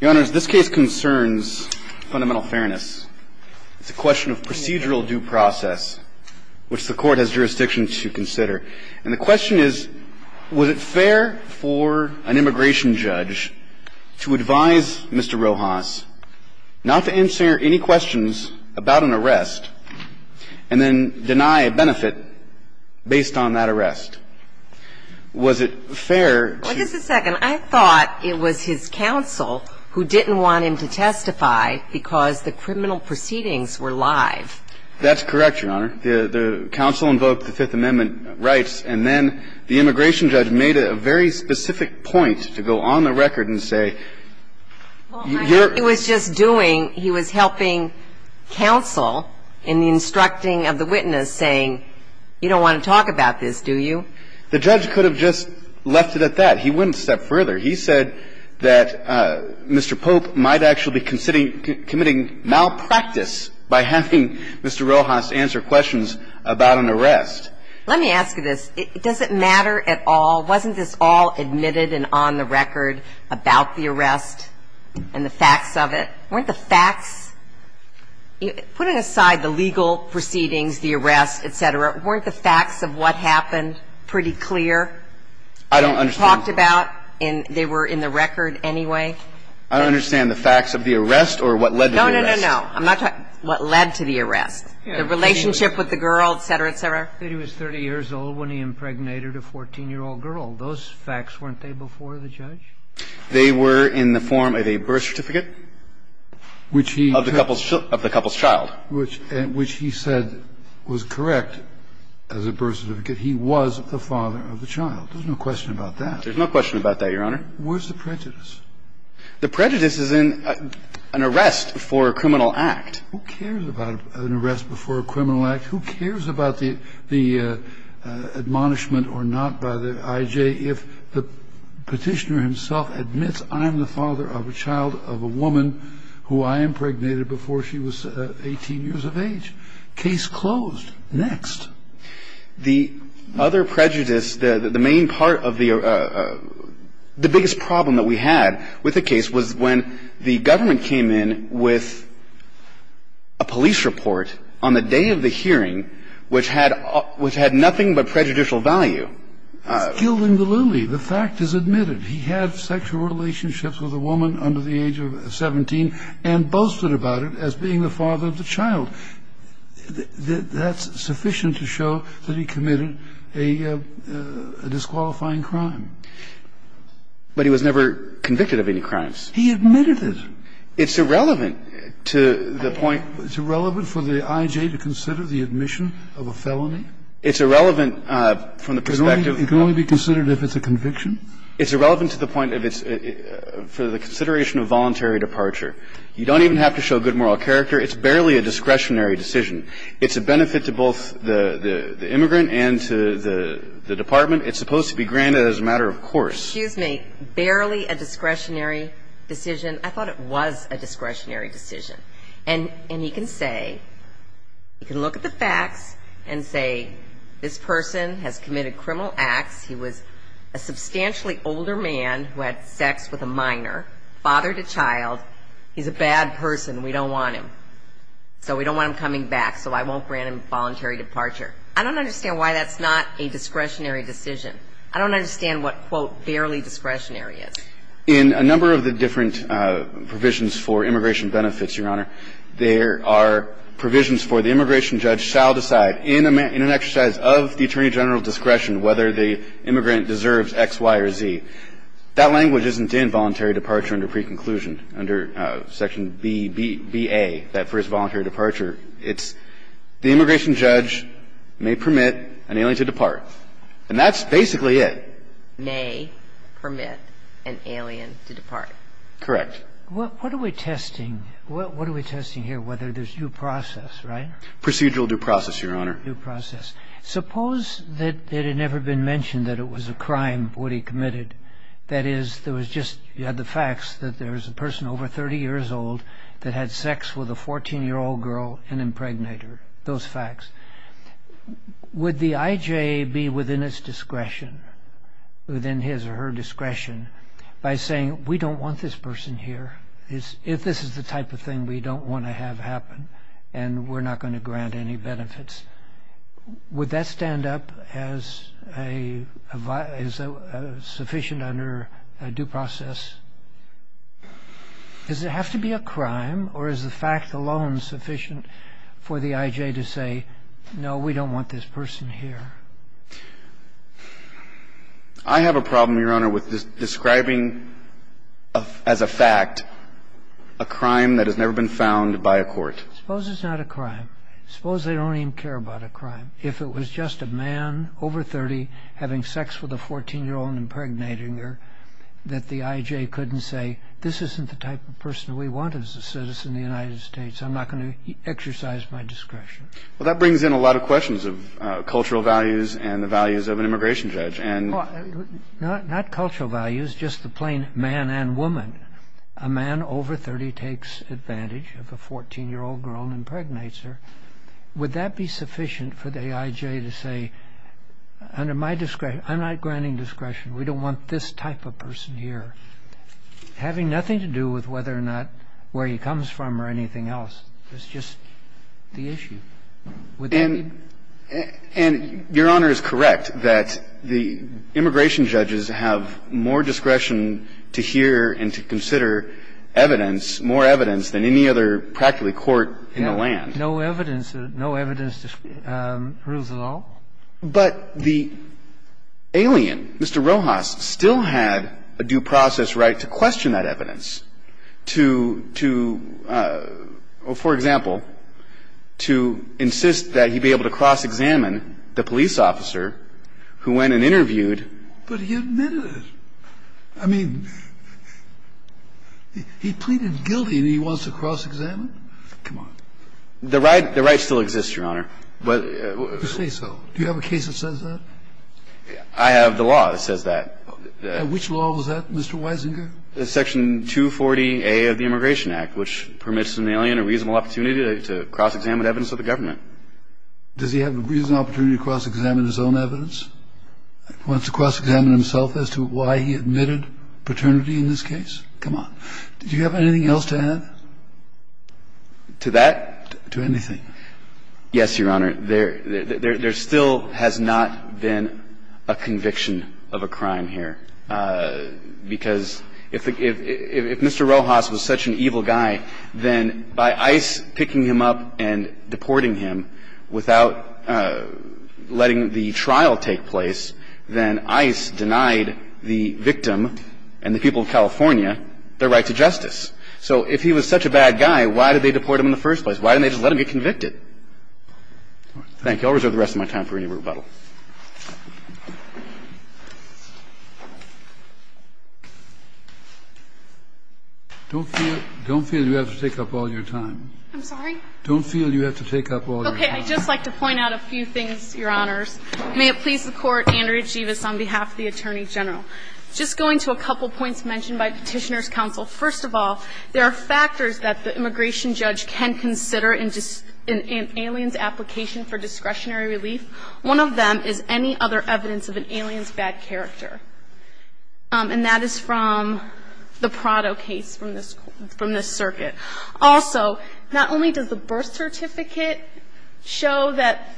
Your Honor, this case concerns fundamental fairness. It's a question of procedural due process, which the court has jurisdiction to consider. And the question is, was it fair for an immigration judge to advise Mr. Rojas not to answer any questions about an arrest and then deny a benefit based on that arrest? Was it fair to... Well, just a second. I thought it was his counsel who didn't want him to testify because the criminal proceedings were live. That's correct, Your Honor. The counsel invoked the Fifth Amendment rights, and then the immigration judge made a very specific point to go on the record and say... Well, I think he was just doing... The judge could have just left it at that. He wouldn't step further. He said that Mr. Pope might actually be committing malpractice by having Mr. Rojas answer questions about an arrest. Let me ask you this. Does it matter at all, wasn't this all admitted and on the record about the arrest and the facts of it? Weren't the facts? Put it aside, the legal proceedings, the arrest, et cetera, weren't the facts of what happened pretty clear? I don't understand. And talked about, and they were in the record anyway? I don't understand. The facts of the arrest or what led to the arrest? No, no, no, no. I'm not talking what led to the arrest. The relationship with the girl, et cetera, et cetera. He said he was 30 years old when he impregnated a 14-year-old girl. Those facts, weren't they before the judge? They were in the form of a birth certificate of the couple's child. Which he said was correct as a birth certificate. He was the father of the child. There's no question about that. There's no question about that, Your Honor. Where's the prejudice? The prejudice is in an arrest before a criminal act. Who cares about an arrest before a criminal act? Who cares about the admonishment or not by the IJ if the petitioner himself admits I'm the father of a child of a woman who I impregnated before she was 18 years of age? Case closed. Next. The other prejudice, the main part of the biggest problem that we had with the case was when the government came in with a police report on the day of the hearing, which had nothing but prejudicial value. It's gilding the looney. The fact is admitted. He had sexual relationships with a woman under the age of 17 and boasted about it as being the father of the child. That's sufficient to show that he committed a disqualifying crime. But he was never convicted of any crimes. He admitted it. It's irrelevant to the point. It's irrelevant for the IJ to consider the admission of a felony? It's irrelevant from the perspective of the law. It can only be considered if it's a conviction? It's irrelevant to the point of its – for the consideration of voluntary departure. You don't even have to show good moral character. It's barely a discretionary decision. It's a benefit to both the immigrant and to the department. It's supposed to be granted as a matter of course. Excuse me. Barely a discretionary decision? I thought it was a discretionary decision. And he can say – he can look at the facts and say this person has committed criminal acts. He was a substantially older man who had sex with a minor, fathered a child. He's a bad person. We don't want him. So we don't want him coming back. So I won't grant him voluntary departure. I don't understand why that's not a discretionary decision. I don't understand what, quote, barely discretionary is. In a number of the different provisions for immigration benefits, Your Honor, there are provisions for the immigration judge shall decide in an exercise of the attorney general discretion whether the immigrant deserves X, Y, or Z. That language isn't in voluntary departure under Preconclusion, under Section B.A., that first voluntary departure. It's the immigration judge may permit an alien to depart. And that's basically it. May permit an alien to depart. Correct. What are we testing? What are we testing here, whether there's due process, right? Procedural due process, Your Honor. Due process. Suppose that it had never been mentioned that it was a crime what he committed. That is, there was just – you had the facts that there was a person over 30 years old that had sex with a 14-year-old girl and impregnated her. Those facts. Would the IJA be within its discretion, within his or her discretion, by saying, We don't want this person here. If this is the type of thing we don't want to have happen, and we're not going to grant any benefits, would that stand up as sufficient under due process? Does it have to be a crime, or is the fact alone sufficient for the IJA to say, No, we don't want this person here? I have a problem, Your Honor, with describing as a fact a crime that has never been found by a court. Suppose it's not a crime. Suppose they don't even care about a crime. If it was just a man over 30 having sex with a 14-year-old and impregnating her that the IJA couldn't say, This isn't the type of person we want as a citizen of the United States. I'm not going to exercise my discretion. Well, that brings in a lot of questions of cultural values and the values of an immigration judge. Not cultural values, just the plain man and woman. A man over 30 takes advantage of a 14-year-old girl and impregnates her. Would that be sufficient for the IJA to say, Under my discretion – I'm not granting discretion. We don't want this type of person here. Having nothing to do with whether or not where he comes from or anything else is just the issue. Would that be? And, Your Honor is correct that the immigration judges have more discretion to hear and to consider evidence, more evidence, than any other practically No evidence. No evidence proves at all. But the alien, Mr. Rojas, still had a due process right to question that evidence, to, for example, to insist that he be able to cross-examine the police officer who went and interviewed. But he admitted it. I mean, he pleaded guilty and he wants to cross-examine? Come on. The right still exists, Your Honor. To say so. Do you have a case that says that? I have the law that says that. Which law was that, Mr. Weisinger? Section 240A of the Immigration Act, which permits an alien a reasonable opportunity to cross-examine evidence of the government. Does he have a reasonable opportunity to cross-examine his own evidence? He wants to cross-examine himself as to why he admitted paternity in this case? Come on. Do you have anything else to add? To that? To anything. Yes, Your Honor. There still has not been a conviction of a crime here, because if Mr. Rojas was such an evil guy, then by ICE picking him up and deporting him without letting the trial take place, then ICE denied the victim and the people of California their right to justice. So if he was such a bad guy, why did they deport him in the first place? Why didn't they just let him get convicted? Thank you. I'll reserve the rest of my time for any rebuttal. Don't feel you have to take up all your time. I'm sorry? Don't feel you have to take up all your time. Okay. I'd just like to point out a few things, Your Honors. May it please the Court, Andrea Chivas on behalf of the Attorney General. Just going to a couple points mentioned by Petitioner's Counsel. First of all, there are factors that the immigration judge can consider in an alien's application for discretionary relief. One of them is any other evidence of an alien's bad character. And that is from the Prado case from this circuit. Also, not only does the birth certificate show that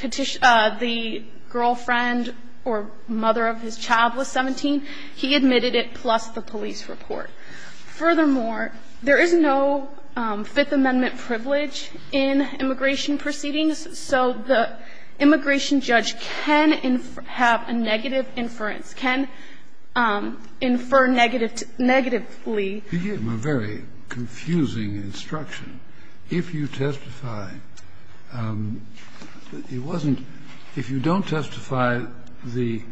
the girlfriend or mother of his child was 17, he admitted it plus the police report. Furthermore, there is no Fifth Amendment privilege in immigration proceedings, so the immigration judge can have a negative inference, can infer negatively. You gave him a very confusing instruction. If you testify, it wasn't – if you don't testify, the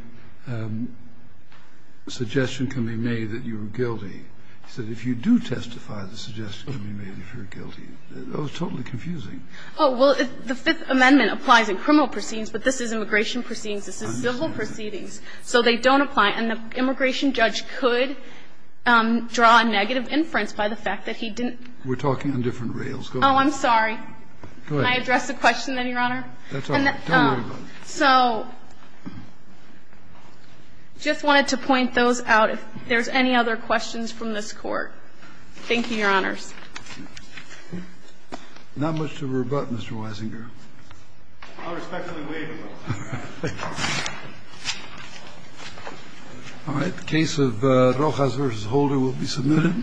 suggestion can be made that you're guilty. He said if you do testify, the suggestion can be made that you're guilty. That was totally confusing. Oh, well, the Fifth Amendment applies in criminal proceedings, but this is immigration proceedings. This is civil proceedings. So they don't apply. And the immigration judge could draw a negative inference by the fact that he didn't We're talking on different rails. Oh, I'm sorry. Go ahead. Can I address a question then, Your Honor? That's all right. Don't worry about it. So just wanted to point those out, if there's any other questions from this Court. Thank you, Your Honors. Not much to rebut, Mr. Weisinger. All respect to the waiver bill. All right. The case of Rojas v. Holder will be submitted.